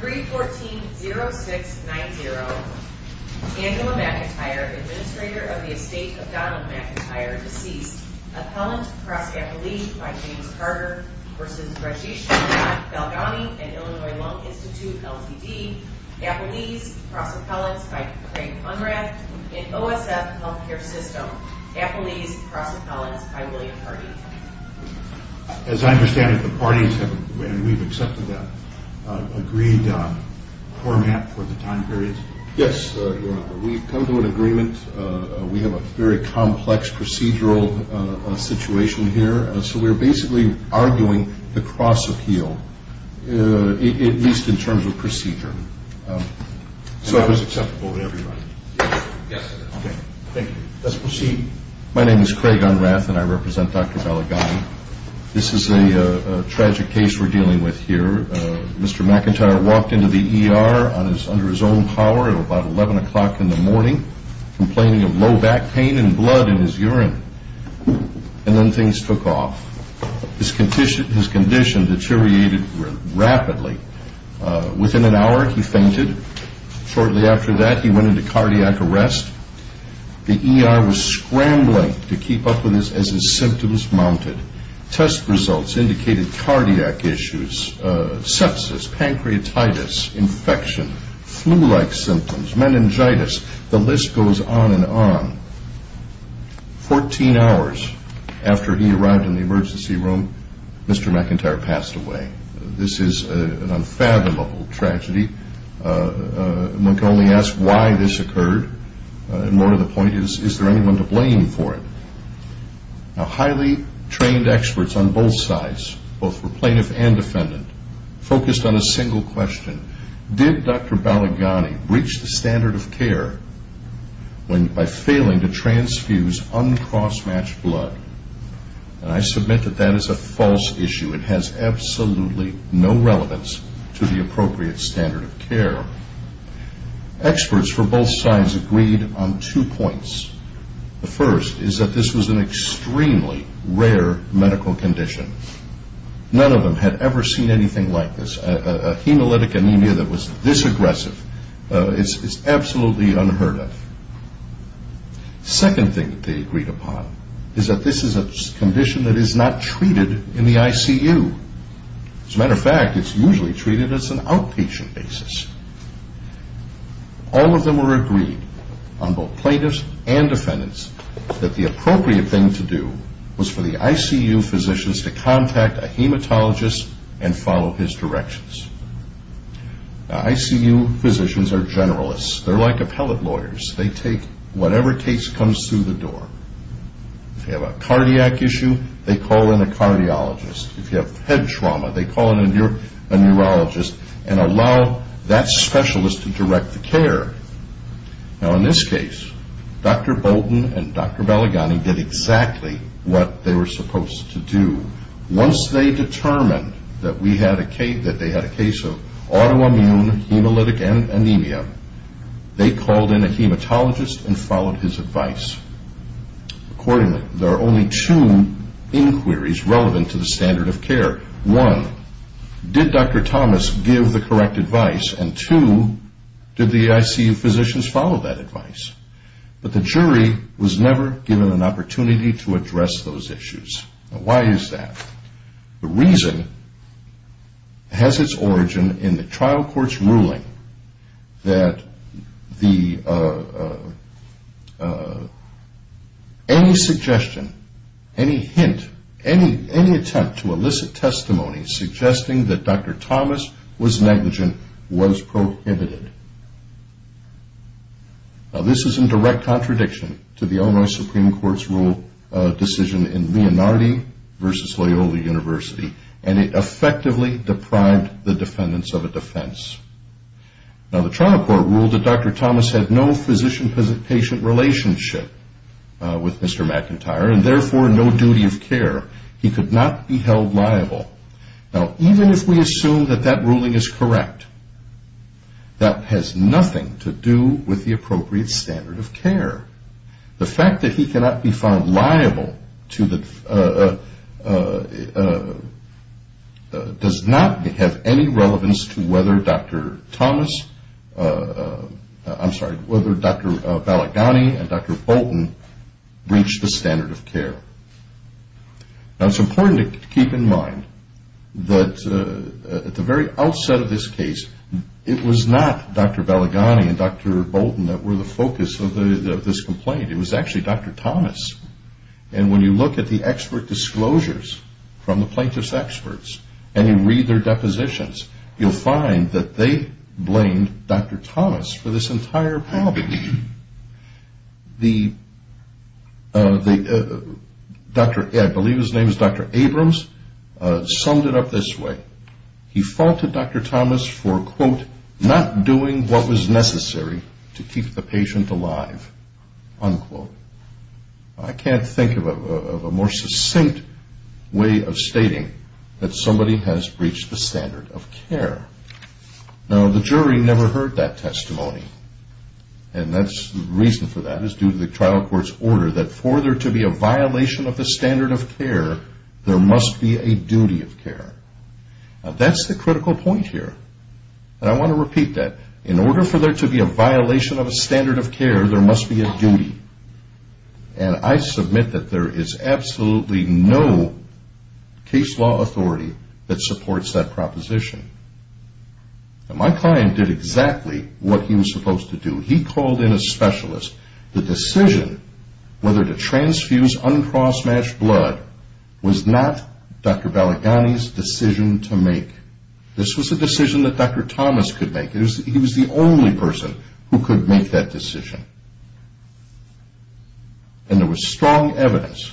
3-14-0690 Angela McIntyre, Administrator of the Estate of Donald McIntyre, deceased. Appellant cross-appellee by James Carter v. Rajesh Balgani and Illinois Lung Institute Ltd. Appellees cross-appellants by Craig Hunrath and OSF Healthcare System. Appellees cross-appellants by William Hardy. As I understand it, the parties have, and we've accepted that, agreed format for the time period? Yes, we've come to an agreement. We have a very complex procedural situation here, so we're basically arguing the cross-appeal, at least in terms of procedure. So it was acceptable to everybody? Yes, sir. Okay, thank you. Let's proceed. My name is Craig Hunrath, and I represent Dr. Balgani. This is a tragic case we're dealing with here. Mr. McIntyre walked into the ER under his own power at about 11 o'clock in the morning, complaining of low back pain and blood in his urine. And then things took off. His condition deteriorated rapidly. Within an hour, he fainted. Shortly after that, he went into cardiac arrest. The ER was scrambling to keep up with this as his symptoms mounted. Test results indicated cardiac issues, sepsis, pancreatitis, infection, flu-like symptoms, meningitis. The list goes on and on. Fourteen hours after he arrived in the emergency room, Mr. McIntyre passed away. This is an unfathomable tragedy. One can only ask why this occurred, and more to the point, is there anyone to blame for it? Now, highly trained experts on both sides, both for plaintiff and defendant, focused on a single question. Did Dr. Balgani reach the standard of care by failing to transfuse uncross-matched blood? And I submit that that is a false issue. It has absolutely no relevance to the appropriate standard of care. Experts for both sides agreed on two points. The first is that this was an extremely rare medical condition. None of them had ever seen anything like this. A hemolytic anemia that was this aggressive is absolutely unheard of. Second thing that they agreed upon is that this is a condition that is not treated in the ICU. As a matter of fact, it's usually treated as an outpatient basis. All of them were agreed, on both plaintiffs and defendants, that the appropriate thing to do was for the ICU physicians to contact a hematologist and follow his directions. Now, ICU physicians are generalists. They're like appellate lawyers. They take whatever case comes through the door. If you have a cardiac issue, they call in a cardiologist. If you have head trauma, they call in a neurologist and allow that specialist to direct the care. Now, in this case, Dr. Bolton and Dr. Balgani did exactly what they were supposed to do. Once they determined that they had a case of autoimmune hemolytic anemia, they called in a hematologist and followed his advice. Accordingly, there are only two inquiries relevant to the standard of care. One, did Dr. Thomas give the correct advice? And two, did the ICU physicians follow that advice? But the jury was never given an opportunity to address those issues. Now, why is that? The reason has its origin in the trial court's ruling that any suggestion, any hint, any attempt to elicit testimony suggesting that Dr. Thomas was negligent was prohibited. Now, this is in direct contradiction to the Illinois Supreme Court's decision in Leonardo v. Loyola University, and it effectively deprived the defendants of a defense. Now, the trial court ruled that Dr. Thomas had no physician-patient relationship with Mr. McIntyre, and therefore no duty of care. He could not be held liable. Now, even if we assume that that ruling is correct, that has nothing to do with the appropriate standard of care. The fact that he cannot be found liable does not have any relevance to whether Dr. Thomas, I'm sorry, whether Dr. Balagany and Dr. Bolton reached the standard of care. Now, it's important to keep in mind that at the very outset of this case, it was not Dr. Balagany and Dr. Bolton that were the focus of this complaint. It was actually Dr. Thomas. And when you look at the expert disclosures from the plaintiff's experts and you read their depositions, you'll find that they blamed Dr. Thomas for this entire problem. The doctor, I believe his name is Dr. Abrams, summed it up this way. He faulted Dr. Thomas for, quote, not doing what was necessary to keep the patient alive, unquote. I can't think of a more succinct way of stating that somebody has breached the standard of care. Now, the jury never heard that testimony. And the reason for that is due to the trial court's order that for there to be a violation of the standard of care, there must be a duty of care. Now, that's the critical point here. And I want to repeat that. In order for there to be a violation of a standard of care, there must be a duty. And I submit that there is absolutely no case law authority that supports that proposition. Now, my client did exactly what he was supposed to do. He called in a specialist. The decision whether to transfuse uncross-matched blood was not Dr. Baligani's decision to make. This was a decision that Dr. Thomas could make. He was the only person who could make that decision. And there was strong evidence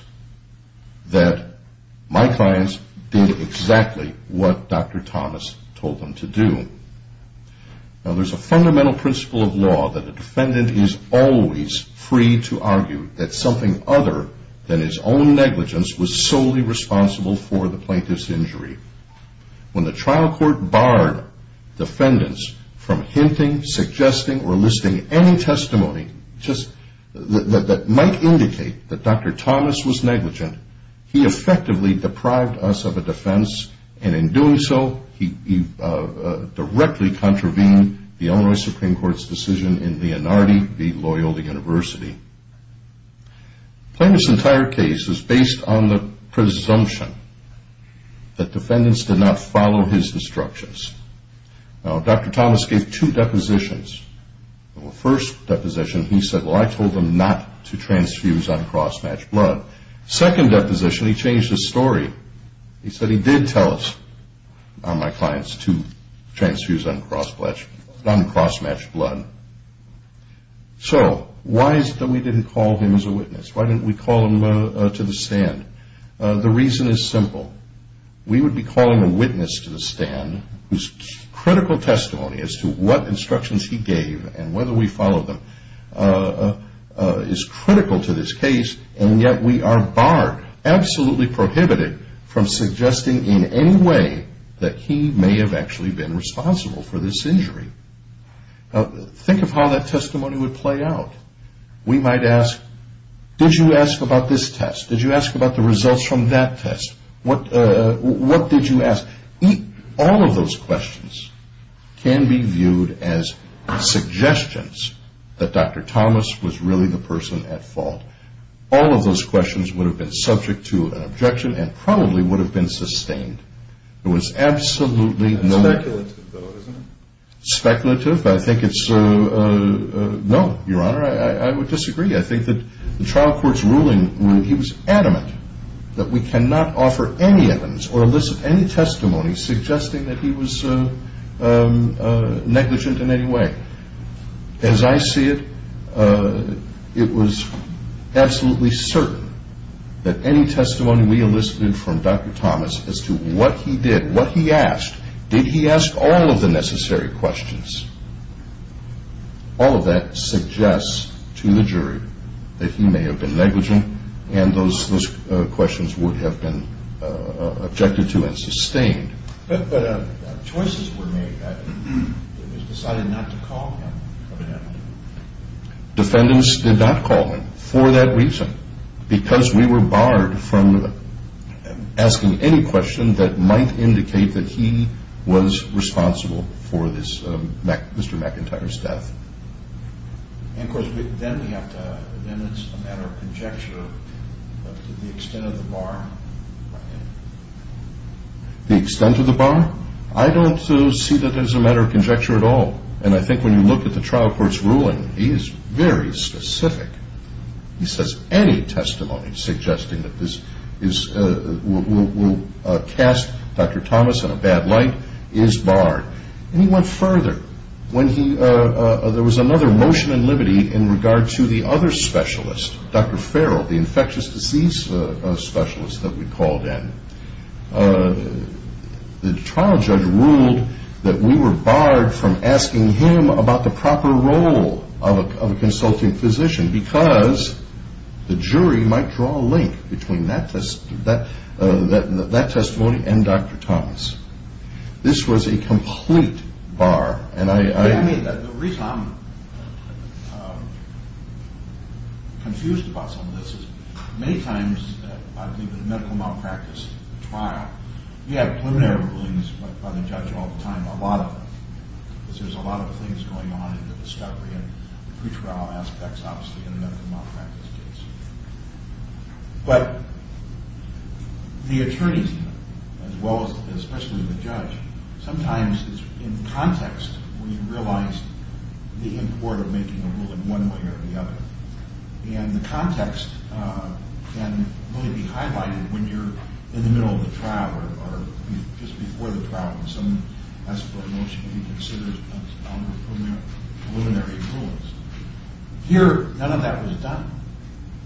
that my clients did exactly what Dr. Thomas told them to do. Now, there's a fundamental principle of law that a defendant is always free to argue that something other than his own negligence was solely responsible for the plaintiff's injury. When the trial court barred defendants from hinting, suggesting, or listing any testimony that might indicate that Dr. Thomas was negligent, he effectively deprived us of a defense. And in doing so, he directly contravened the Illinois Supreme Court's decision in Leonardo v. Loyola University. The plaintiff's entire case is based on the presumption that defendants did not follow his instructions. Now, Dr. Thomas gave two depositions. The first deposition, he said, well, I told them not to transfuse uncross-matched blood. Second deposition, he changed his story. He said he did tell my clients to transfuse uncross-matched blood. So why is it that we didn't call him as a witness? Why didn't we call him to the stand? The reason is simple. We would be calling a witness to the stand whose critical testimony as to what instructions he gave and whether we followed them is critical to this case, and yet we are barred, absolutely prohibited, from suggesting in any way that he may have actually been responsible for this injury. Now, think of how that testimony would play out. We might ask, did you ask about this test? Did you ask about the results from that test? What did you ask? All of those questions can be viewed as suggestions that Dr. Thomas was really the person at fault. All of those questions would have been subject to an objection and probably would have been sustained. Speculative, though, isn't it? Speculative. I think it's no, Your Honor. I would disagree. I think that the trial court's ruling, he was adamant that we cannot offer any evidence or elicit any testimony suggesting that he was negligent in any way. As I see it, it was absolutely certain that any testimony we elicited from Dr. Thomas as to what he did, what he asked, did he ask all of the necessary questions, all of that suggests to the jury that he may have been negligent and those questions would have been objected to and sustained. But choices were made. It was decided not to call him. Defendants did not call him for that reason, because we were barred from asking any question that might indicate that he was responsible for Mr. McIntyre's death. And, of course, then we have to, then it's a matter of conjecture of the extent of the bar. The extent of the bar? I don't see that as a matter of conjecture at all. And I think when you look at the trial court's ruling, he is very specific. He says any testimony suggesting that this will cast Dr. Thomas in a bad light is barred. And he went further. When there was another motion in liberty in regard to the other specialist, Dr. Farrell, the infectious disease specialist that we called in, the trial judge ruled that we were barred from asking him about the proper role of a consulting physician because the jury might draw a link between that testimony and Dr. Thomas. This was a complete bar. The reason I'm confused about some of this is many times, I believe, in a medical malpractice trial, you have preliminary rulings by the judge all the time, a lot of them, because there's a lot of things going on in the discovery and pre-trial aspects, obviously, in a medical malpractice case. But the attorneys, as well as especially the judge, sometimes it's in context when you realize the import of making a ruling one way or the other. And the context can really be highlighted when you're in the middle of the trial or just before the trial when someone asks for a motion to be considered under preliminary rulings. Here, none of that was done.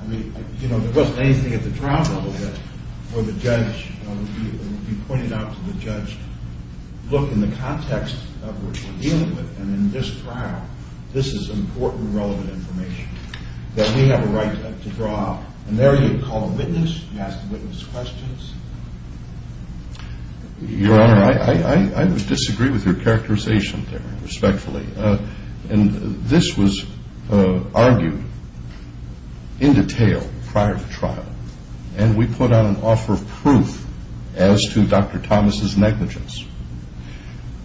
I mean, you know, there wasn't anything at the trial level where the judge would be pointed out to the judge, look, in the context of what you're dealing with and in this trial, this is important, relevant information that we have a right to draw. And there you call a witness, you ask the witness questions. Your Honor, I would disagree with your characterization there, respectfully. And this was argued in detail prior to trial, and we put on an offer of proof as to Dr. Thomas's negligence.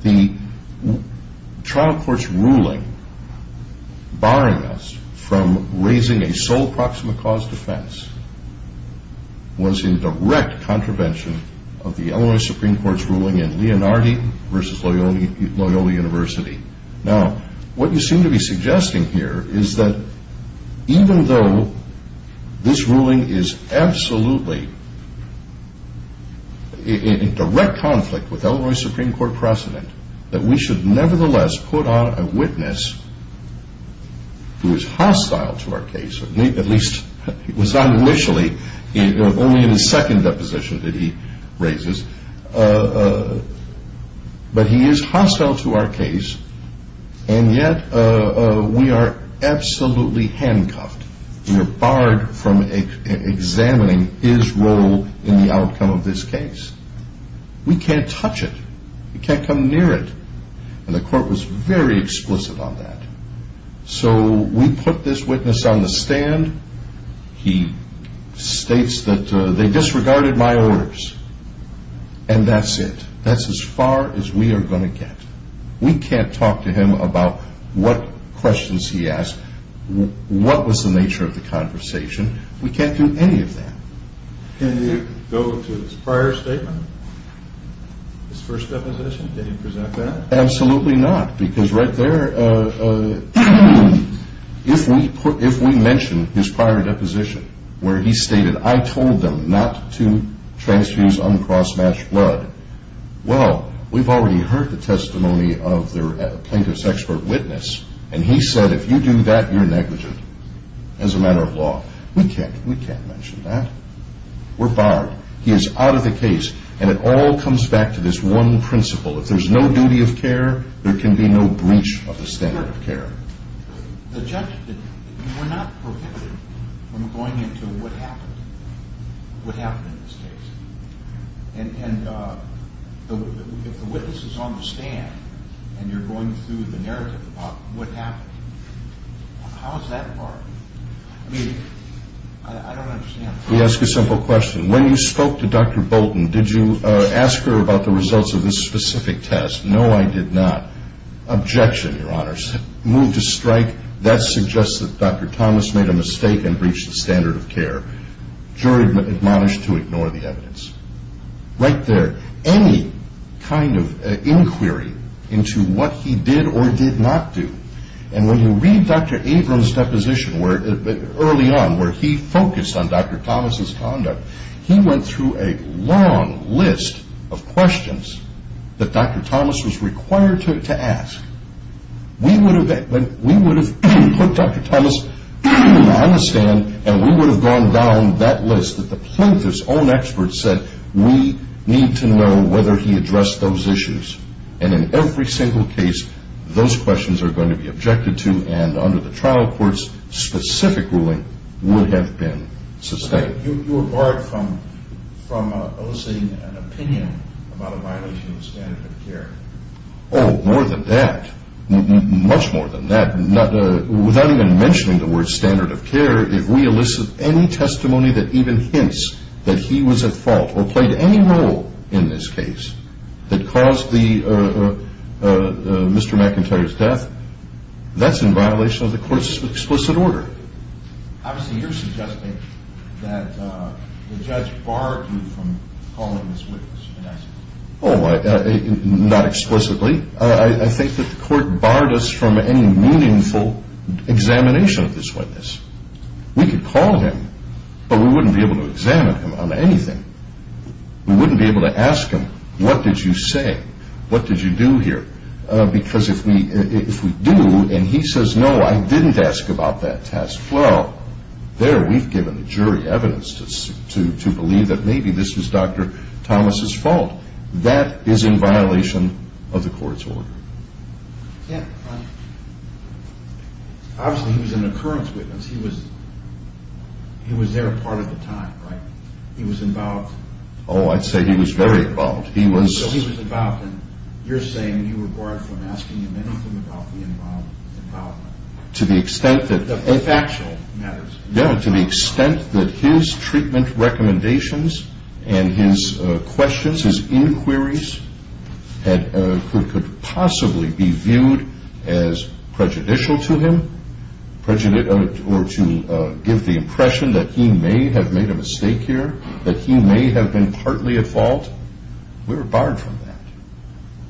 The trial court's ruling barring us from raising a sole proximate cause defense was in direct contravention of the Illinois Supreme Court's ruling in Leonardo v. Loyola University. Now, what you seem to be suggesting here is that even though this ruling is absolutely in direct conflict with Illinois Supreme Court precedent, that we should nevertheless put on a witness who is hostile to our case, at least it was not initially, only in the second deposition that he raises, but he is hostile to our case, and yet we are absolutely handcuffed. We are barred from examining his role in the outcome of this case. We can't touch it. We can't come near it. And the court was very explicit on that. So we put this witness on the stand. He states that they disregarded my orders, and that's it. That's as far as we are going to get. We can't talk to him about what questions he asked, what was the nature of the conversation. We can't do any of that. Can you go to his prior statement, his first deposition? Can you present that? Absolutely not, because right there, if we mention his prior deposition, where he stated, I told them not to transfuse uncross-matched blood, well, we've already heard the testimony of the plaintiff's expert witness, and he said if you do that, you're negligent as a matter of law. We can't mention that. We're barred. He is out of the case, and it all comes back to this one principle. If there's no duty of care, there can be no breach of the standard of care. The judge did not prohibit him from going into what happened, what happened in this case. And if the witness is on the stand, and you're going through the narrative about what happened, how is that barred? I mean, I don't understand. Let me ask you a simple question. When you spoke to Dr. Bolton, did you ask her about the results of this specific test? No, I did not. Objection, Your Honors. Moved to strike, that suggests that Dr. Thomas made a mistake and breached the standard of care. Jury admonished to ignore the evidence. Right there, any kind of inquiry into what he did or did not do, And when you read Dr. Abrams' deposition early on, where he focused on Dr. Thomas' conduct, he went through a long list of questions that Dr. Thomas was required to ask. We would have put Dr. Thomas on the stand, and we would have gone down that list that the plaintiff's own experts said, we need to know whether he addressed those issues. And in every single case, those questions are going to be objected to, and under the trial court's specific ruling would have been sustained. You were barred from eliciting an opinion about a violation of the standard of care. Oh, more than that. Much more than that. Without even mentioning the word standard of care, if we elicit any testimony that even hints that he was at fault, or played any role in this case, that caused Mr. McIntyre's death, that's in violation of the court's explicit order. Obviously, you're suggesting that the judge barred you from calling this witness. Oh, not explicitly. I think that the court barred us from any meaningful examination of this witness. We could call him, but we wouldn't be able to examine him on anything. We wouldn't be able to ask him, what did you say? What did you do here? Because if we do, and he says, no, I didn't ask about that test. Well, there we've given the jury evidence to believe that maybe this was Dr. Thomas' fault. That is in violation of the court's order. Yeah. Obviously, he was an occurrence witness. He was there part of the time, right? He was involved. Oh, I'd say he was very involved. So he was involved, and you're saying you were barred from asking him anything about the involvement. To the extent that... The factual matters. Yeah, to the extent that his treatment recommendations and his questions, his inquiries could possibly be viewed as prejudicial to him, or to give the impression that he may have made a mistake here, that he may have been partly at fault, we were barred from that.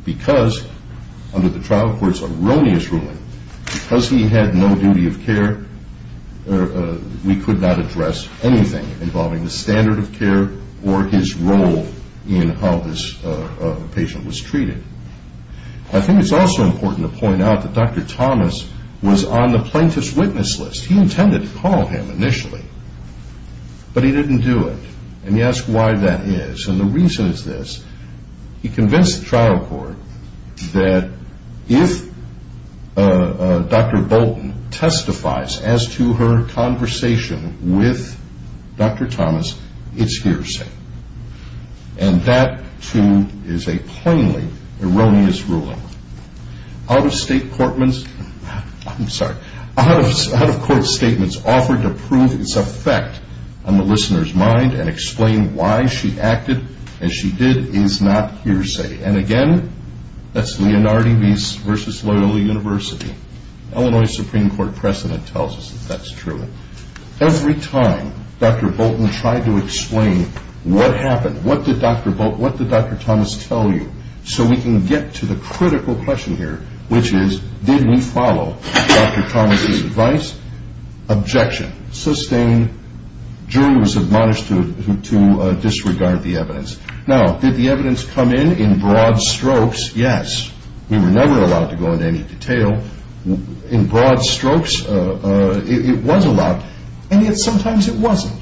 Because under the trial court's erroneous ruling, because he had no duty of care, we could not address anything involving the standard of care or his role in how this patient was treated. I think it's also important to point out that Dr. Thomas was on the plaintiff's witness list. He intended to call him initially, but he didn't do it, and you ask why that is. And the reason is this. He convinced the trial court that if Dr. Bolton testifies as to her conversation with Dr. Thomas, it's hearsay. And that, too, is a plainly erroneous ruling. Out-of-state court statements offered to prove its effect on the listener's mind and explain why she acted as she did is not hearsay. And, again, that's Leonardo vs. Loyola University. Illinois Supreme Court precedent tells us that that's true. Every time Dr. Bolton tried to explain what happened, what did Dr. Thomas tell you, so we can get to the critical question here, which is, did we follow Dr. Thomas' advice? Objection. Sustained. Jury was admonished to disregard the evidence. Now, did the evidence come in in broad strokes? Yes. We were never allowed to go into any detail. In broad strokes, it was allowed, and yet sometimes it wasn't.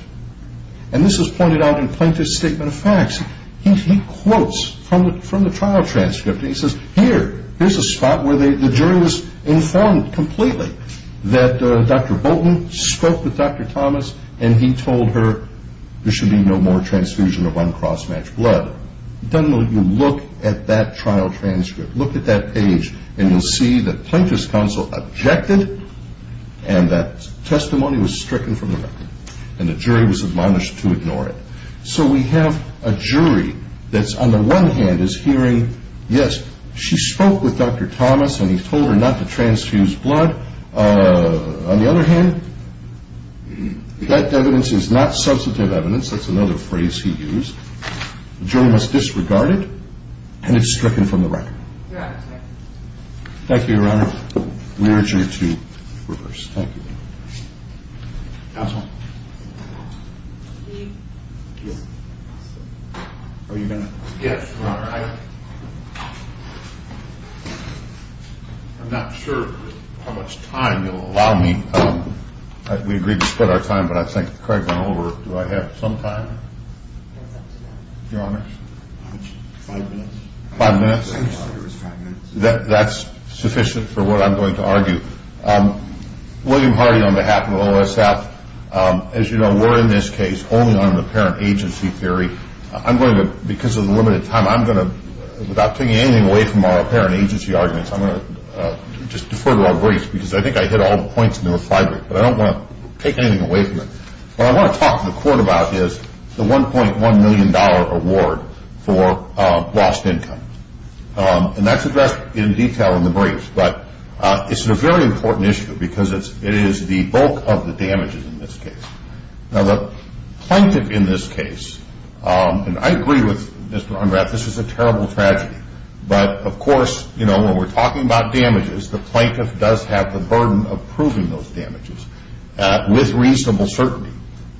And this was pointed out in the plaintiff's statement of facts. He quotes from the trial transcript, and he says, Here, here's a spot where the jury was informed completely that Dr. Bolton spoke with Dr. Thomas and he told her there should be no more transfusion of uncross-matched blood. You look at that trial transcript, look at that page, and you'll see that plaintiff's counsel objected, and that testimony was stricken from the record, and the jury was admonished to ignore it. So we have a jury that's, on the one hand, is hearing, Yes, she spoke with Dr. Thomas and he told her not to transfuse blood. On the other hand, that evidence is not substantive evidence. That's another phrase he used. The jury must disregard it, and it's stricken from the record. Your Honor. Thank you, Your Honor. We urge you to reverse. Thank you. Counsel. Counsel. Are you going to? Yes, Your Honor. I'm not sure how much time you'll allow me. We agreed to split our time, but I think Craig went over. Do I have some time, Your Honor? Five minutes. Five minutes? That's sufficient for what I'm going to argue. William Hardy on behalf of OSF. As you know, we're in this case only on an apparent agency theory. I'm going to, because of the limited time, I'm going to, without taking anything away from our apparent agency arguments, I'm going to just defer to our briefs because I think I hit all the points in the refinery, but I don't want to take anything away from it. What I want to talk to the Court about is the $1.1 million award for lost income, and that's addressed in detail in the briefs, but it's a very important issue because it is the bulk of the damages in this case. Now, the plaintiff in this case, and I agree with Mr. Unrath, this is a terrible tragedy, but, of course, you know, when we're talking about damages, the plaintiff does have the burden of proving those damages with reasonable certainty.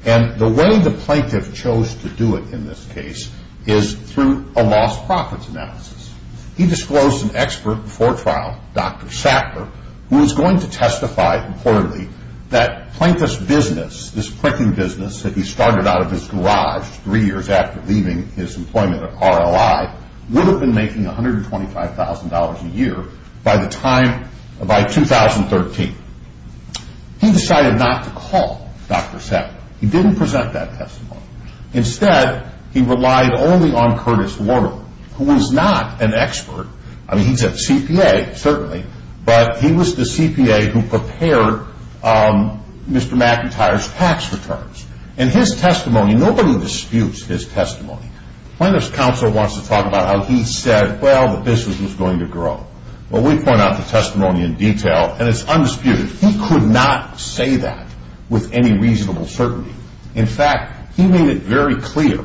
And the way the plaintiff chose to do it in this case is through a lost profits analysis. He disclosed to an expert before trial, Dr. Sackler, who was going to testify reportedly that Plaintiff's business, this printing business that he started out of his garage three years after leaving his employment at RLI, would have been making $125,000 a year by the time, by 2013. He decided not to call Dr. Sackler. He didn't present that testimony. Instead, he relied only on Curtis Warner, who was not an expert. I mean, he's a CPA, certainly, but he was the CPA who prepared Mr. McIntyre's tax returns. And his testimony, nobody disputes his testimony. Plaintiff's counsel wants to talk about how he said, well, the business was going to grow. Well, we point out the testimony in detail, and it's undisputed. He could not say that with any reasonable certainty. In fact, he made it very clear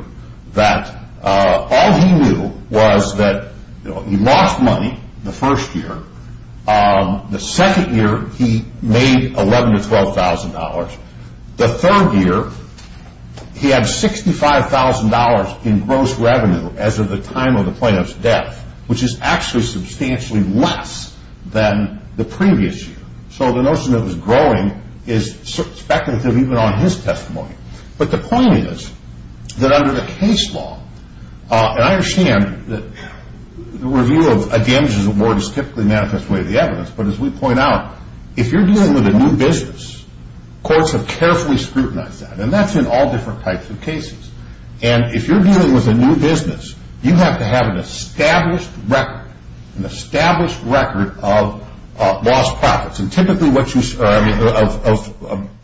that all he knew was that he lost money the first year. The second year, he made $11,000 to $12,000. The third year, he had $65,000 in gross revenue as of the time of the plaintiff's death, which is actually substantially less than the previous year. So the notion that it was growing is speculative even on his testimony. But the point is that under the case law, and I understand that the review of a damages award is typically manifest way of the evidence, but as we point out, if you're dealing with a new business, courts have carefully scrutinized that, and that's in all different types of cases. And if you're dealing with a new business, you have to have an established record, a record of lost profits, and typically of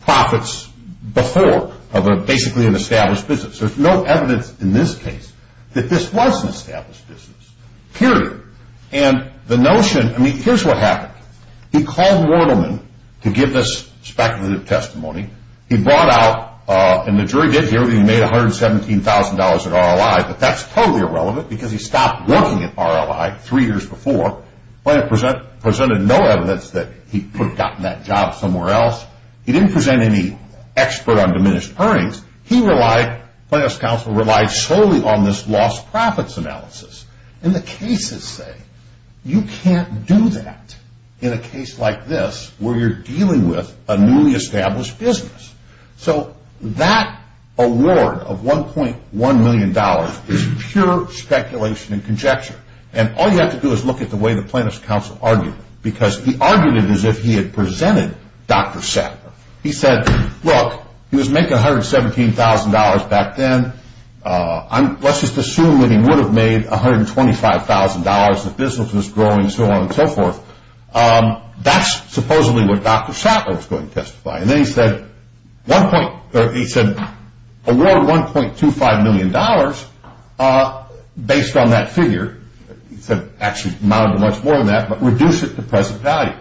profits before, of basically an established business. There's no evidence in this case that this was an established business, period. And the notion, I mean, here's what happened. He called Mordelman to give this speculative testimony. He brought out, and the jury did hear that he made $117,000 at RLI, but that's totally irrelevant because he stopped working at RLI three years before. Plano presented no evidence that he could have gotten that job somewhere else. He didn't present any expert on diminished earnings. He relied, Plano's counsel relied solely on this lost profits analysis. And the cases say you can't do that in a case like this where you're dealing with a newly established business. So that award of $1.1 million is pure speculation and conjecture, and all you have to do is look at the way the Plano's counsel argued it, because he argued it as if he had presented Dr. Sattler. He said, look, he was making $117,000 back then. Let's just assume that he would have made $125,000, the business was growing, so on and so forth. That's supposedly what Dr. Sattler was going to testify. And then he said, award $1.25 million based on that figure. He said, actually amounted to much more than that, but reduce it to present value.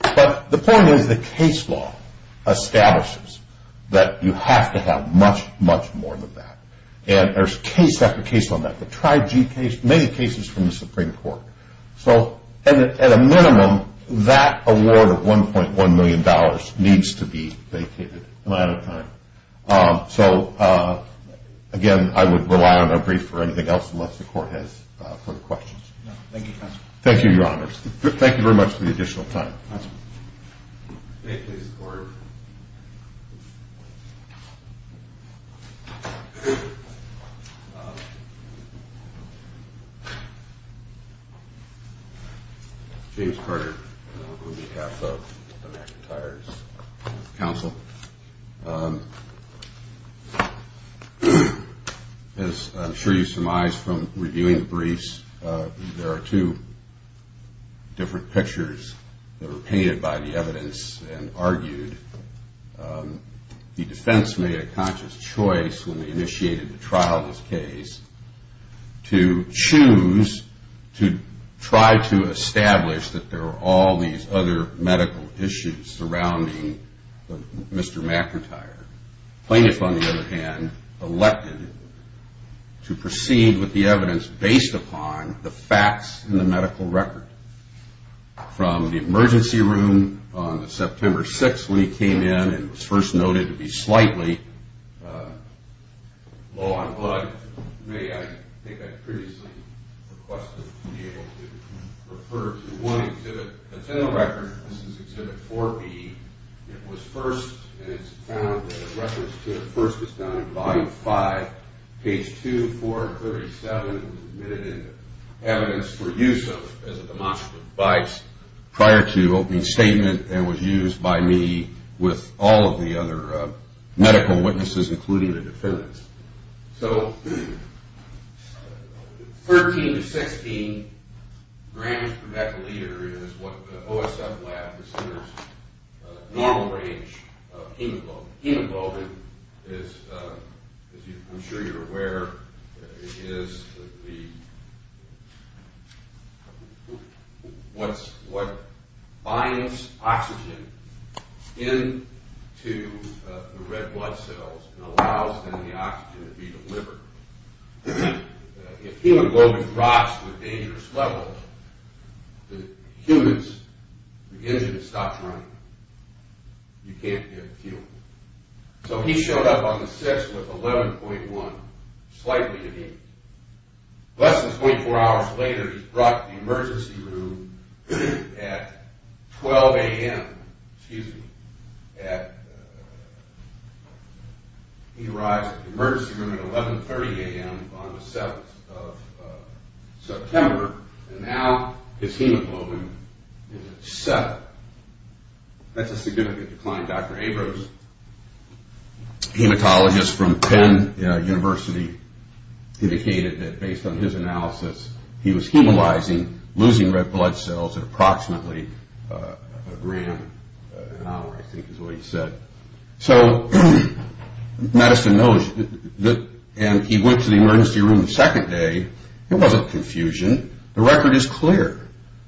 But the point is the case law establishes that you have to have much, much more than that. And there's case after case on that. The Tri-G case, many cases from the Supreme Court. So at a minimum, that award of $1.1 million needs to be vacated. Am I out of time? So, again, I would rely on a brief for anything else unless the court has further questions. Thank you, counsel. Thank you, Your Honors. Thank you very much for the additional time. Counsel. May it please the Court. James Carter on behalf of American Tires Council. As I'm sure you surmised from reviewing the briefs, there are two different pictures that were painted by the evidence and argued. The defense made a conscious choice when they initiated the trial of this case to choose to try to establish that there were all these other medical issues surrounding Mr. Mack retired. The plaintiff, on the other hand, elected to proceed with the evidence based upon the facts in the medical record. From the emergency room on September 6th when he came in and was first noted to be slightly low on blood, I think I previously requested to be able to refer to one exhibit. That's in the record. This is exhibit 4B. It was first and it's found that a reference to it first is found in volume 5, page 2, 437. It was admitted in evidence for use as a demonstrative device prior to opening statement and was used by me with all of the other medical witnesses, including the defendants. So 13 to 16 grams per mecaliter is what the OSF lab considers normal range of hemoglobin. Hemoglobin, as I'm sure you're aware, is what binds oxygen into the red blood cells and allows then the oxygen to be delivered. If hemoglobin drops to a dangerous level, the engine stops running. You can't get fuel. So he showed up on the 6th with 11.1, slightly in need. Less than 24 hours later, he's brought to the emergency room at 12 a.m. He arrives at the emergency room at 11.30 a.m. on the 7th of September and now his hemoglobin is at 7. That's a significant decline. Dr. Abrams, hematologist from Penn University, indicated that based on his analysis, he was hemolyzing, losing red blood cells at approximately a gram an hour, I think is what he said. So Madison knows, and he went to the emergency room the second day. There wasn't confusion. The record is clear.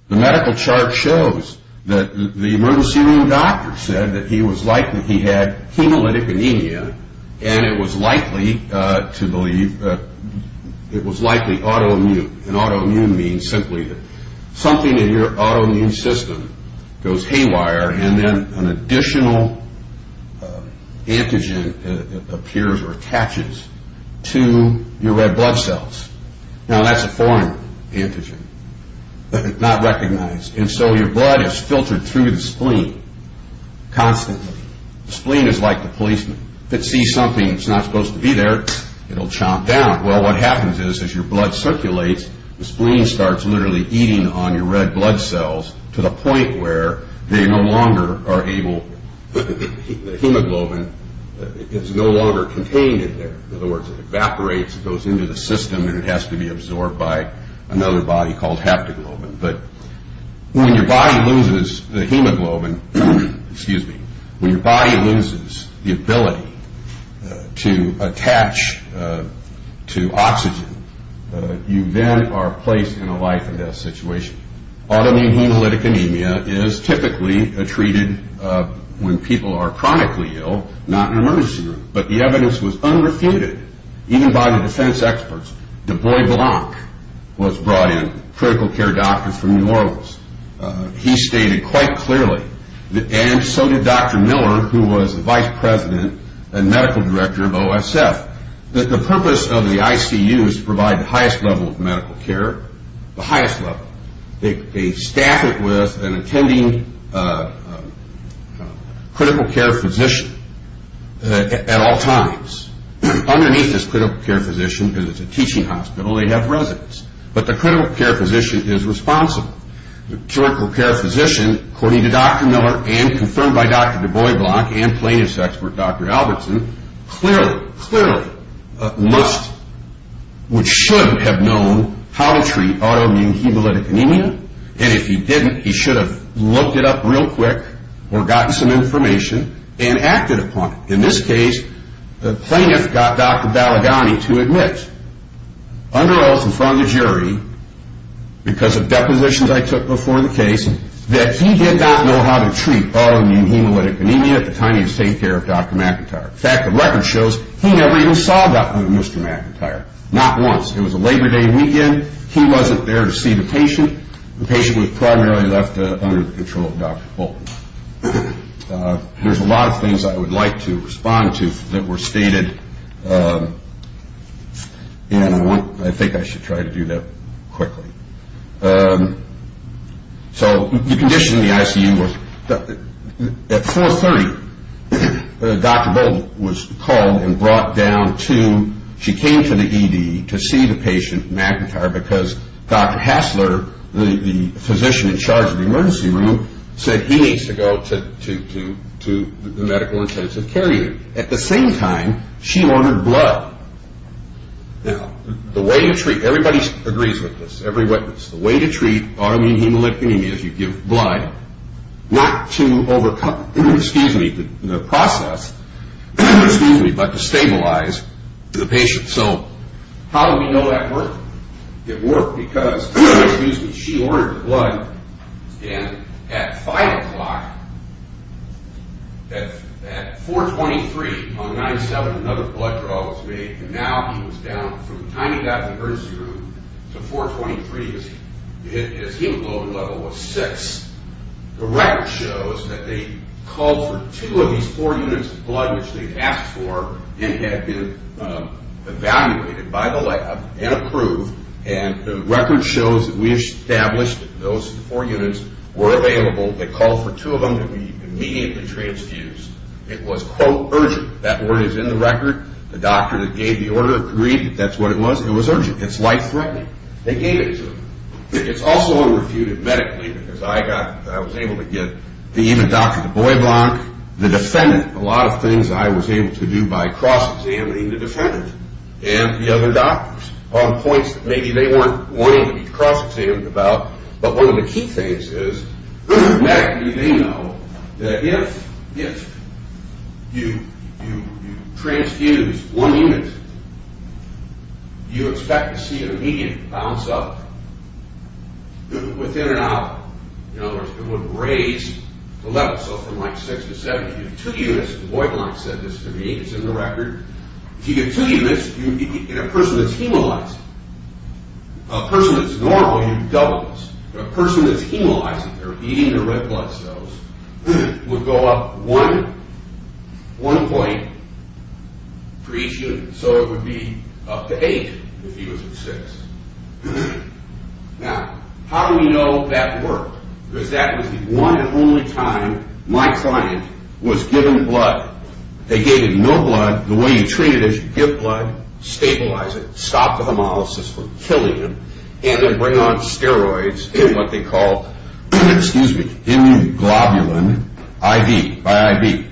The medical chart shows that the emergency room doctor said that he was likely, he had hemolytic anemia, and it was likely autoimmune, and autoimmune means simply that something in your autoimmune system goes haywire and then an additional antigen appears or attaches to your red blood cells. Now that's a foreign antigen, not recognized, and so your blood is filtered through the spleen constantly. The spleen is like the policeman. If it sees something that's not supposed to be there, it'll chomp down. Well, what happens is as your blood circulates, the spleen starts literally eating on your red blood cells to the point where they no longer are able, the hemoglobin is no longer contained in there. In other words, it evaporates, it goes into the system, and it has to be absorbed by another body called haptoglobin. But when your body loses the hemoglobin, when your body loses the ability to attach to oxygen, you then are placed in a life-or-death situation. Autoimmune hemolytic anemia is typically treated when people are chronically ill, not in an emergency room, but the evidence was unrefuted even by the defense experts. Du Bois Blanc was brought in, critical care doctor from New Orleans. He stated quite clearly, and so did Dr. Miller, who was the vice president and medical director of OSF, that the purpose of the ICU is to provide the highest level of medical care, the highest level. They staff it with an attending critical care physician at all times. Underneath this critical care physician, because it's a teaching hospital, they have residents. But the critical care physician is responsible. The critical care physician, according to Dr. Miller and confirmed by Dr. Du Bois Blanc and plaintiff's expert Dr. Albertson, clearly, clearly must, which should have known, how to treat autoimmune hemolytic anemia. And if he didn't, he should have looked it up real quick or gotten some information and acted upon it. In this case, the plaintiff got Dr. Balagany to admit, under oath in front of the jury, because of depositions I took before the case, that he did not know how to treat autoimmune hemolytic anemia at the time he was taking care of Dr. McIntyre. In fact, the record shows he never even saw Dr. McIntyre, not once. It was a Labor Day weekend. He wasn't there to see the patient. The patient was primarily left under the control of Dr. Bolton. There's a lot of things I would like to respond to that were stated, and I think I should try to do that quickly. So the condition in the ICU was, at 4.30, Dr. Bolton was called and brought down to, she came to the ED to see the patient, McIntyre, because Dr. Hassler, the physician in charge of the emergency room, said he needs to go to the medical intensive care unit. At the same time, she ordered blood. Now, the way you treat, everybody agrees with this, every witness, the way to treat autoimmune hemolytic anemia is you give blood, not to overcome the process, but to stabilize the patient. So how do we know that worked? It worked because she ordered blood, and at 5 o'clock, at 4.23, on 9.7, another blood draw was made, and now he was down, from the time he got in the emergency room to 4.23, his hemoglobin level was 6. The record shows that they called for two of these four units of blood, which they had asked for and had been evaluated by the lab and approved, and the record shows that we established that those four units were available. They called for two of them to be immediately transfused. It was, quote, urgent. That word is in the record. The doctor that gave the order agreed that that's what it was. It was urgent. It's life-threatening. They gave it to her. It's also unrefuted medically, because I got, I was able to get, the doctor, the boy block, the defendant, a lot of things I was able to do by cross-examining the defendant and the other doctors on points that maybe they weren't wanting to be cross-examined about, but one of the key things is medically they know that if you transfuse one unit, you expect to see an immediate bounce-up within an hour. In other words, it would raise the level. So from, like, six to seven, you get two units. The boy block said this to me. It's in the record. If you get two units in a person that's hemolyzed, a person that's normal, you get doubles. But a person that's hemolyzed, they're eating their red blood cells, would go up one point for each unit. So it would be up to eight if he was at six. Now, how do we know that worked? Because that was the one and only time my client was given blood. They gave him no blood. The way you treat it is you give blood, stabilize it, stop the hemolysis from killing him, and then bring on steroids in what they call immunoglobulin IV, by IV.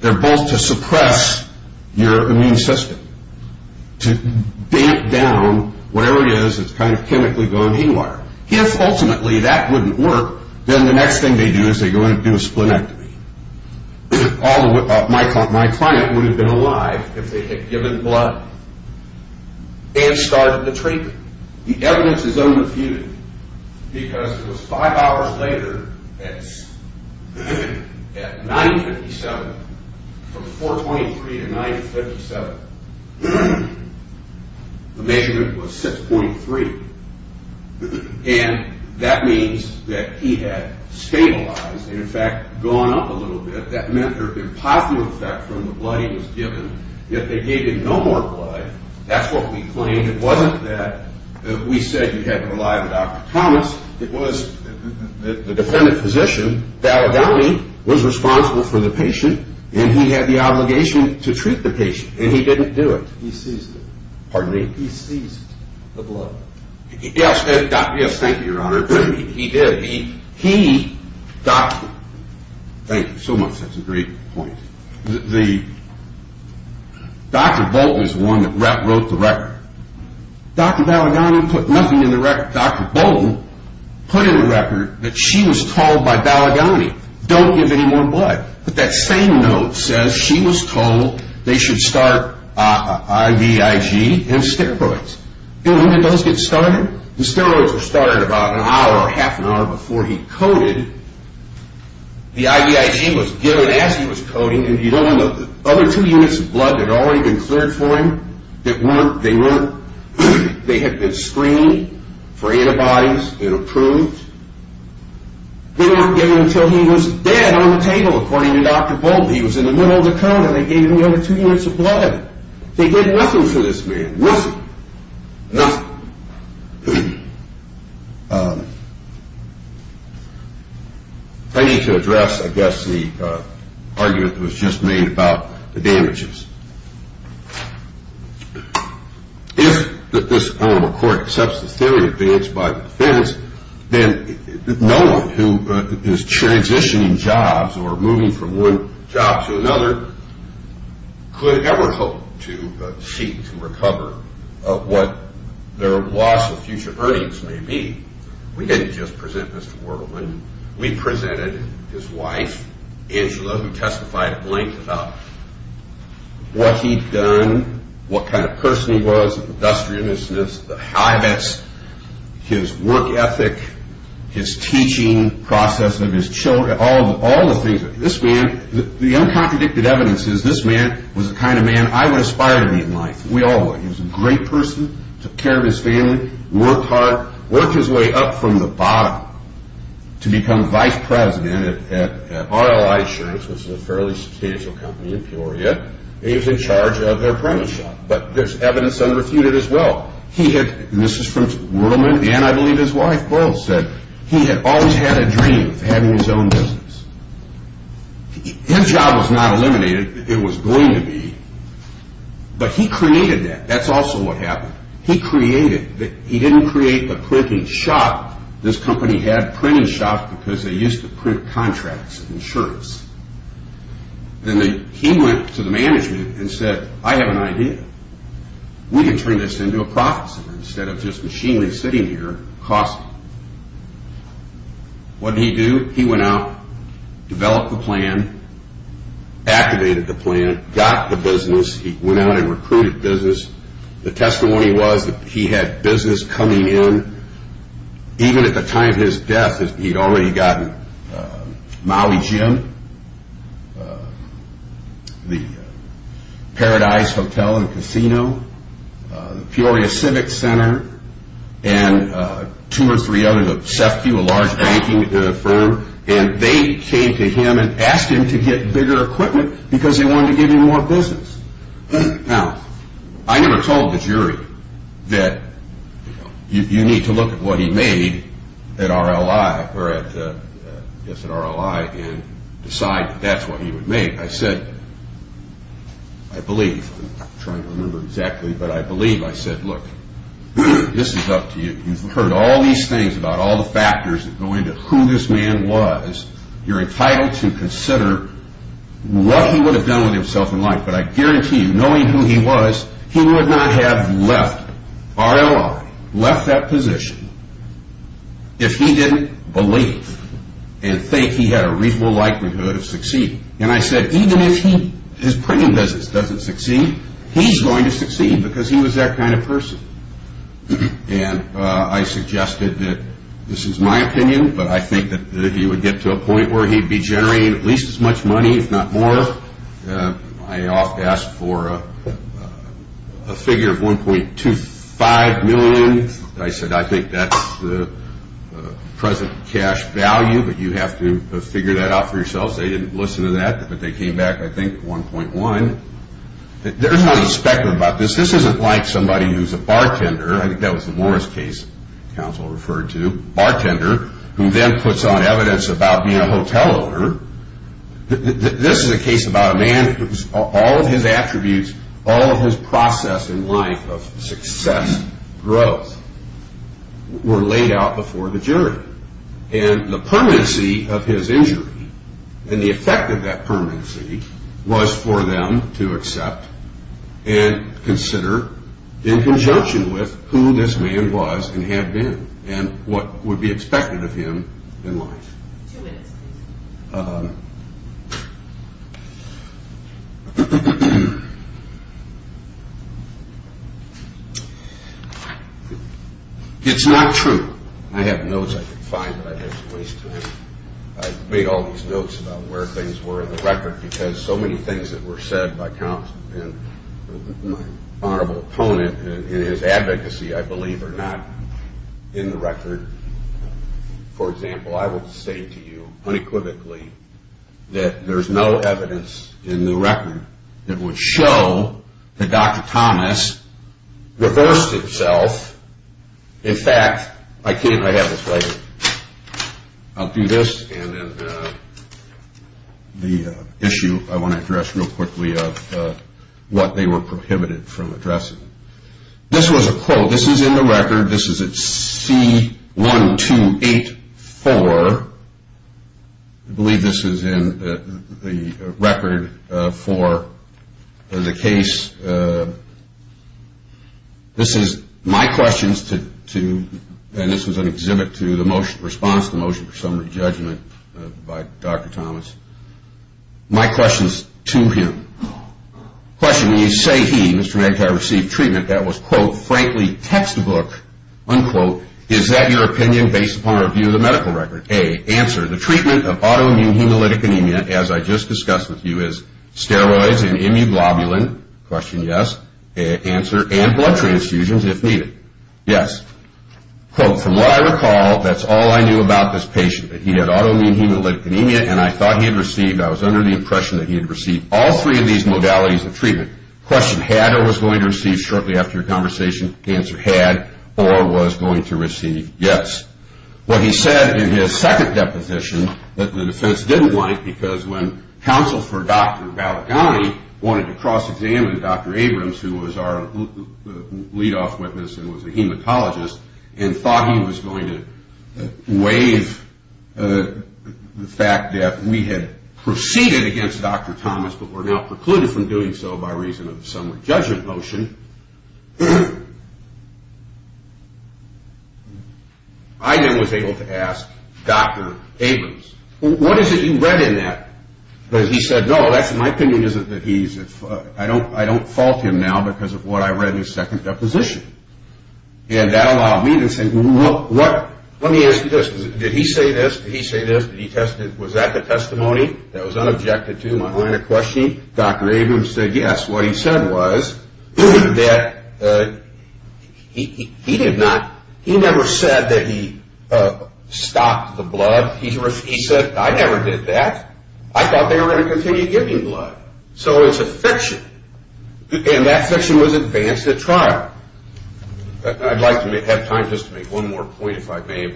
They're both to suppress your immune system, to damp down whatever it is that's kind of chemically gone haywire. If, ultimately, that wouldn't work, then the next thing they do is they go in and do a splenectomy. My client would have been alive if they had given blood and started the treatment. The evidence is unrefuted, because it was five hours later at 9.57, from 4.23 to 9.57. The measurement was 6.3. And that means that he had stabilized and, in fact, gone up a little bit. That meant there had been a positive effect from the blood he was given. Yet they gave him no more blood. That's what we claimed. I mean, it wasn't that we said you had to rely on Dr. Thomas. It was the defendant physician, Dalladoni, was responsible for the patient, and he had the obligation to treat the patient, and he didn't do it. He seized it. Pardon me? He seized the blood. Yes, thank you, Your Honor. He did. He, Dr. Thank you so much. That's a great point. Dr. Bolton is the one that wrote the record. Dr. Dalladoni put nothing in the record. Dr. Bolton put in the record that she was told by Dalladoni, don't give any more blood. But that same note says she was told they should start IVIG and steroids. And when did those get started? The steroids were started about an hour or half an hour before he coded. The IVIG was given as he was coding, and the other two units of blood had already been cleared for him. They had been screened for antibodies and approved. They weren't given until he was dead on the table, according to Dr. Bolton. He was in the middle of the code, and they gave him the other two units of blood. They gave nothing to this man, nothing. Nothing. I need to address, I guess, the argument that was just made about the damages. If this court accepts the theory advanced by the defense, then no one who is transitioning jobs or moving from one job to another could ever hope to seek to recover what their loss of future earnings may be. We didn't just present this to Wergelman. We presented his wife, Angela, who testified at length about what he'd done, what kind of person he was, the industriousness, the habits, his work ethic, his teaching process of his children, all the things. This man, the uncontradicted evidence is this man was the kind of man I would aspire to be in life. We all would. He was a great person, took care of his family, worked hard, worked his way up from the bottom to become vice president at RLI Insurance, which is a fairly substantial company in Peoria. He was in charge of their premise shop, but there's evidence unrefuted as well. He had, and this is from Wergelman, and I believe his wife, Boyle, said, he had always had a dream of having his own business. His job was not eliminated. It was going to be, but he created that. That's also what happened. He created, he didn't create the printing shop. This company had printing shops because they used to print contracts and shirts. Then he went to the management and said, I have an idea. We can turn this into a profit center instead of just machinely sitting here costing. What did he do? He went out, developed a plan, activated the plan, got the business. He went out and recruited business. The testimony was that he had business coming in. Even at the time of his death, he'd already gotten Maui Gym, the Paradise Hotel and Casino, Peoria Civic Center, and two or three others, a large banking firm, and they came to him and asked him to get bigger equipment because they wanted to give him more business. Now, I never told the jury that you need to look at what he made at RLI and decide that that's what he would make. I said, I believe, I'm trying to remember exactly, but I believe. I said, look, this is up to you. You've heard all these things about all the factors that go into who this man was. You're entitled to consider what he would have done with himself in life, but I guarantee you, knowing who he was, he would not have left RLI, left that position, if he didn't believe and think he had a reasonable likelihood of succeeding. And I said, even if his printing business doesn't succeed, he's going to succeed because he was that kind of person. And I suggested that this is my opinion, but I think that he would get to a point where he'd be generating at least as much money, if not more. I asked for a figure of 1.25 million. I said, I think that's the present cash value, but you have to figure that out for yourself. They didn't listen to that, but they came back, I think, 1.1. There's nothing speculative about this. This isn't like somebody who's a bartender. I think that was the Morris case counsel referred to, bartender, who then puts on evidence about being a hotel owner. This is a case about a man whose all of his attributes, all of his process in life of success, growth, were laid out before the jury. And the permanency of his injury and the effect of that permanency was for them to accept and consider in conjunction with who this man was and had been and what would be expected of him in life. Two minutes, please. It's not true. I have notes I could find, but I'd just waste time. I made all these notes about where things were in the record because so many things that were said by counsel and my honorable opponent in his advocacy, I believe, are not in the record. For example, I will say to you unequivocally that there's no evidence in the record that would show that Dr. Thomas reversed himself. In fact, I have this right here. I'll do this and then the issue I want to address real quickly of what they were prohibited from addressing. This was a quote. This is in the record. This is at C-1284. I believe this is in the record for the case. This is my questions to, and this was an exhibit to, the response to the motion for summary judgment by Dr. Thomas. My questions to him. Question. When you say he, Mr. McIntyre, received treatment, that was, quote, frankly textbook, unquote. Is that your opinion based upon a review of the medical record? A, answer. The treatment of autoimmune hemolytic anemia, as I just discussed with you, is steroids and immunoglobulin. Question, yes. Answer, and blood transfusions if needed. Yes. Quote, from what I recall, that's all I knew about this patient. He had autoimmune hemolytic anemia, and I thought he had received, I was under the impression that he had received all three of these modalities of treatment. Question, had or was going to receive shortly after your conversation? Answer, had or was going to receive? Yes. What he said in his second deposition that the defense didn't like, because when counsel for Dr. Balaghani wanted to cross-examine Dr. Abrams, who was our lead-off witness and was a hematologist, and thought he was going to waive the fact that we had proceeded against Dr. Thomas but were now precluded from doing so by reason of some judgment motion, I then was able to ask Dr. Abrams, what is it you read in that? He said, no, my opinion isn't that he's at fault. I don't fault him now because of what I read in his second deposition. And that allowed me to say, well, let me ask you this. Did he say this? Did he say this? Was that the testimony that was unobjected to my line of questioning? Dr. Abrams said, yes. What he said was that he never said that he stopped the blood. He said, I never did that. I thought they were going to continue giving blood. So it's a fiction. And that fiction was advanced at trial. I'd like to have time just to make one more point, if I may,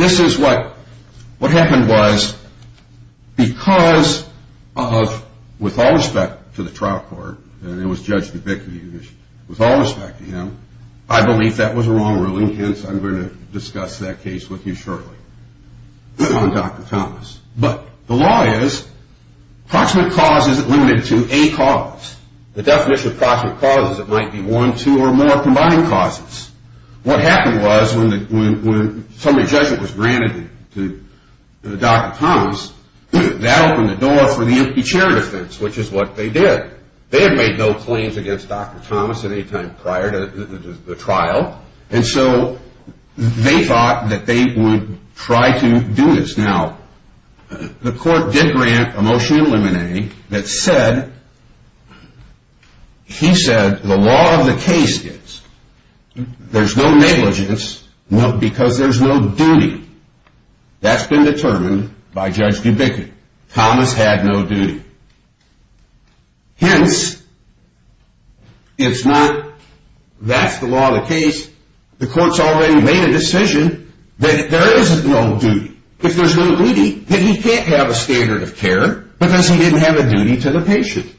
This is what happened was because of, with all respect to the trial court, and it was Judge Dubicki, with all respect to him, I believe that was a wrong ruling. Hence, I'm going to discuss that case with you shortly on Dr. Thomas. But the law is proximate cause is limited to a cause. The definition of proximate cause is it might be one, two, or more combined causes. What happened was when summary judgment was granted to Dr. Thomas, that opened the door for the empty chair defense, which is what they did. They had made no claims against Dr. Thomas at any time prior to the trial. And so they thought that they would try to do this. Now, the court did grant a motion eliminating that said, he said the law of the case is there's no negligence because there's no duty. That's been determined by Judge Dubicki. Thomas had no duty. Hence, it's not that's the law of the case. The court's already made a decision that there is no duty. If there's no duty, then he can't have a standard of care because he didn't have a duty to the patient.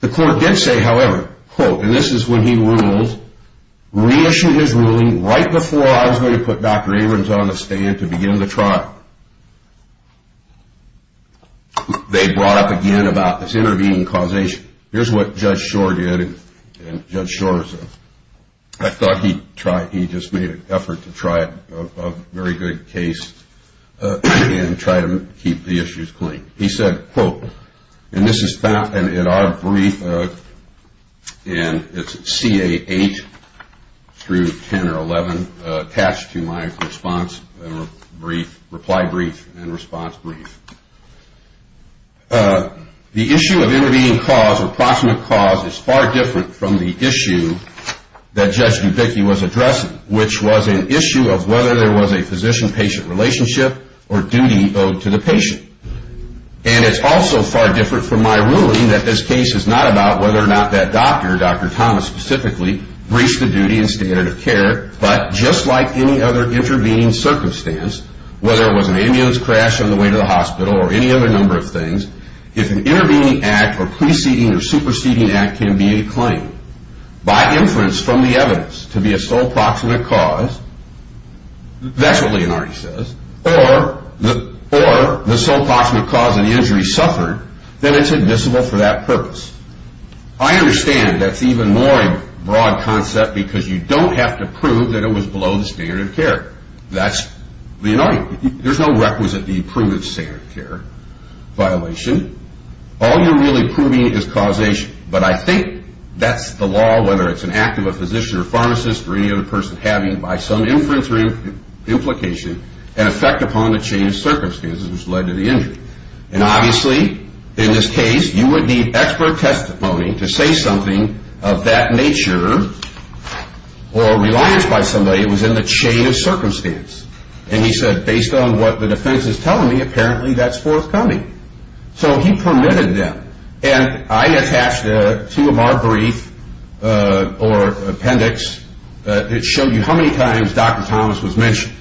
The court did say, however, quote, and this is when he rules, reissued his ruling right before I was going to put Dr. Abrams on the stand to begin the trial. They brought up again about this intervening causation. Here's what Judge Shore did. Judge Shore, I thought he just made an effort to try a very good case and try to keep the issues clean. He said, quote, and this is found in our brief. And it's CA 8 through 10 or 11 attached to my response brief, reply brief and response brief. The issue of intervening cause or approximate cause is far different from the issue that Judge Dubicki was addressing, which was an issue of whether there was a physician-patient relationship or duty owed to the patient. And it's also far different from my ruling that this case is not about whether or not that doctor, Dr. Thomas specifically, breached the duty and standard of care, but just like any other intervening circumstance, whether it was an ambulance crash on the way to the hospital or any other number of things, if an intervening act or preceding or superseding act can be a claim by inference from the evidence to be a sole proximate cause, that's what Leonardi says, or the sole proximate cause of the injury suffered, then it's admissible for that purpose. I understand that's even more a broad concept because you don't have to prove that it was below the standard of care. That's Leonardi. There's no requisite to prove the standard of care violation. All you're really proving is causation, but I think that's the law, whether it's an act of a physician or pharmacist or any other person having by some inference or implication an effect upon the chain of circumstances which led to the injury. And obviously, in this case, you would need expert testimony to say something of that nature or reliance by somebody who was in the chain of circumstance. And he said, based on what the defense is telling me, apparently that's forthcoming. So he permitted them, and I attached two of our briefs or appendix that showed you how many times Dr. Thomas was mentioned.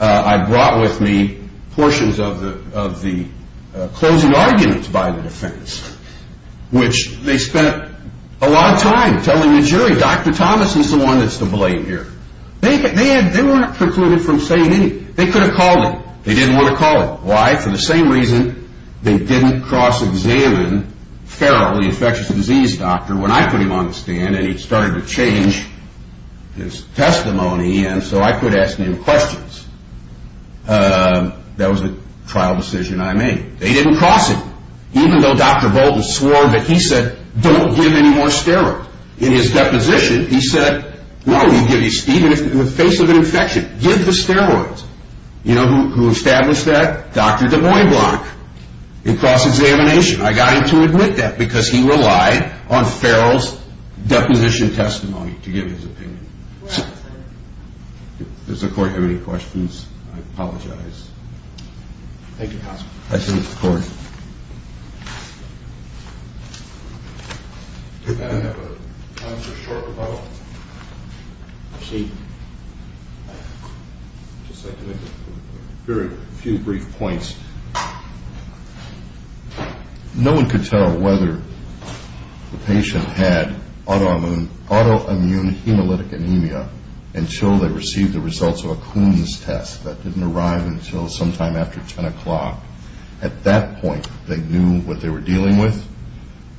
I brought with me portions of the closing arguments by the defense, which they spent a lot of time telling the jury, Dr. Thomas is the one that's to blame here. They weren't precluded from saying anything. They could have called it. They didn't want to call it. Why? For the same reason they didn't cross-examine Farrell, the infectious disease doctor, when I put him on the stand and he started to change his testimony so I could ask him questions. That was a trial decision I made. They didn't cross him, even though Dr. Bolton swore that he said, don't give any more steroids. In his deposition, he said, no, even in the face of an infection, give the steroids. You know who established that? Dr. DuBois Blanc in cross-examination. I got him to admit that because he relied on Farrell's deposition testimony to give his opinion. Does the court have any questions? I apologize. Thank you, counsel. Thank you, court. Do I have time for a short rebuttal? Just a few brief points. No one could tell whether the patient had autoimmune hemolytic anemia until they received the results of a Coombs test. That didn't arrive until sometime after 10 o'clock. At that point, they knew what they were dealing with.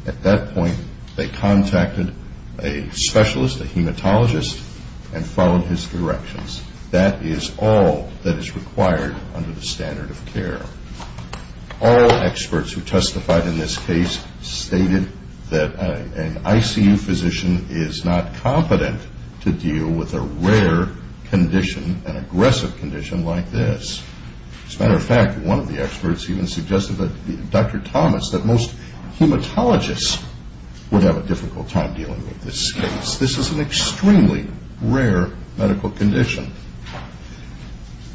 At that point, they contacted a specialist, a hematologist, and followed his directions. That is all that is required under the standard of care. All experts who testified in this case stated that an ICU physician is not competent to deal with a rare condition, an aggressive condition like this. As a matter of fact, one of the experts even suggested that Dr. Thomas, that most hematologists would have a difficult time dealing with this case. This is an extremely rare medical condition.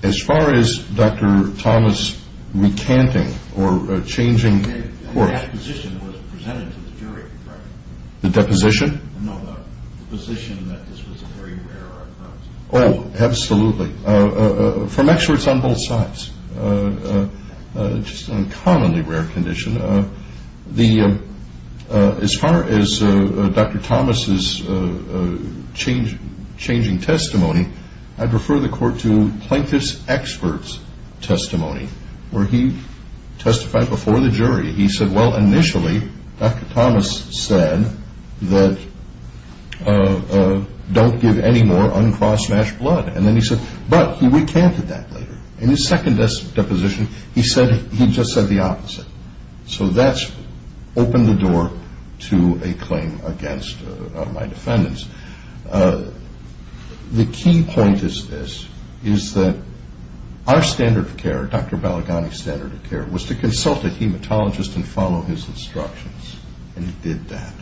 As far as Dr. Thomas recanting or changing court... The deposition was presented to the jury, correct? The deposition? No, the position that this was a very rare occurrence. Oh, absolutely. From experts on both sides. Just an uncommonly rare condition. As far as Dr. Thomas' changing testimony, I'd refer the court to Plankett's expert's testimony, where he testified before the jury. He said, well, initially, Dr. Thomas said that don't give any more uncross-matched blood. And then he said, but he recanted that later. In his second deposition, he just said the opposite. So that's opened the door to a claim against my defendants. The key point is this, is that our standard of care, Dr. Balaghani's standard of care, was to consult a hematologist and follow his instructions, and he did that.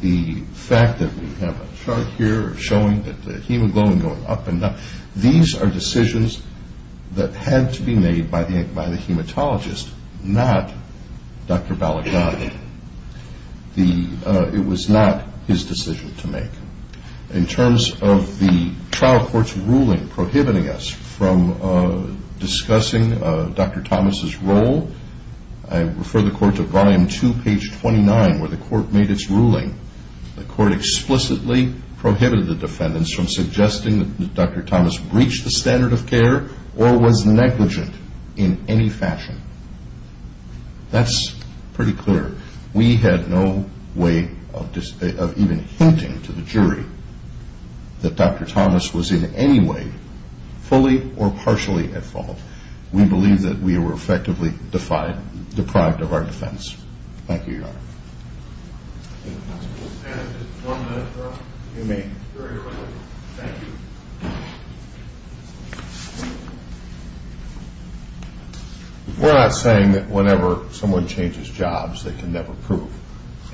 The fact that we have a chart here showing the hemoglobin going up and down, these are decisions that had to be made by the hematologist, not Dr. Balaghani. It was not his decision to make. In terms of the trial court's ruling prohibiting us from discussing Dr. Thomas' role, I refer the court to volume 2, page 29, where the court made its ruling. The court explicitly prohibited the defendants from suggesting that Dr. Thomas breached the standard of care or was negligent in any fashion. That's pretty clear. We had no way of even hinting to the jury that Dr. Thomas was in any way fully or partially at fault. We believe that we were effectively deprived of our defense. Thank you, Your Honor. Thank you, counsel. Just one minute, sir. If you may. Very quickly. Thank you. We're not saying that whenever someone changes jobs, they can never prove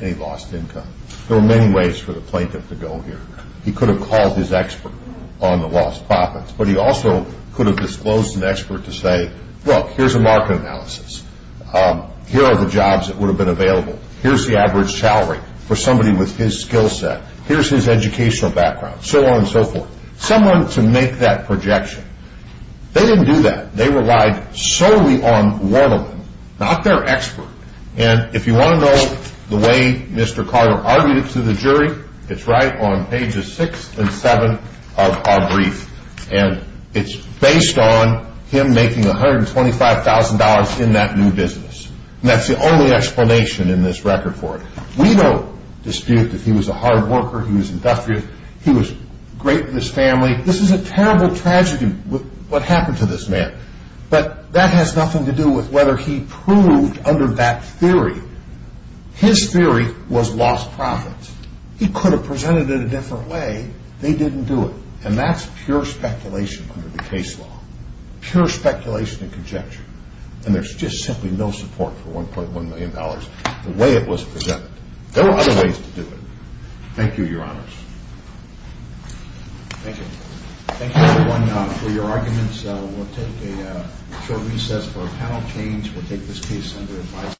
any lost income. There are many ways for the plaintiff to go here. He could have called his expert on the lost profits, but he also could have disclosed to an expert to say, look, here's a market analysis. Here are the jobs that would have been available. Here's the average salary for somebody with his skill set. Here's his educational background. So on and so forth. Someone to make that projection. They didn't do that. They relied solely on one of them, not their expert. And if you want to know the way Mr. Carter argued it to the jury, it's right on pages 6 and 7 of our brief. And it's based on him making $125,000 in that new business. And that's the only explanation in this record for it. We don't dispute that he was a hard worker, he was industrious, he was great in his family. This is a terrible tragedy, what happened to this man. But that has nothing to do with whether he proved under that theory. His theory was lost profits. He could have presented it a different way. They didn't do it. And that's pure speculation under the case law. Pure speculation and conjecture. And there's just simply no support for $1.1 million the way it was presented. There are other ways to do it. Thank you, Your Honors. Thank you. Thank you, everyone, for your arguments. We'll take a short recess for a panel change. We'll take this case under advice.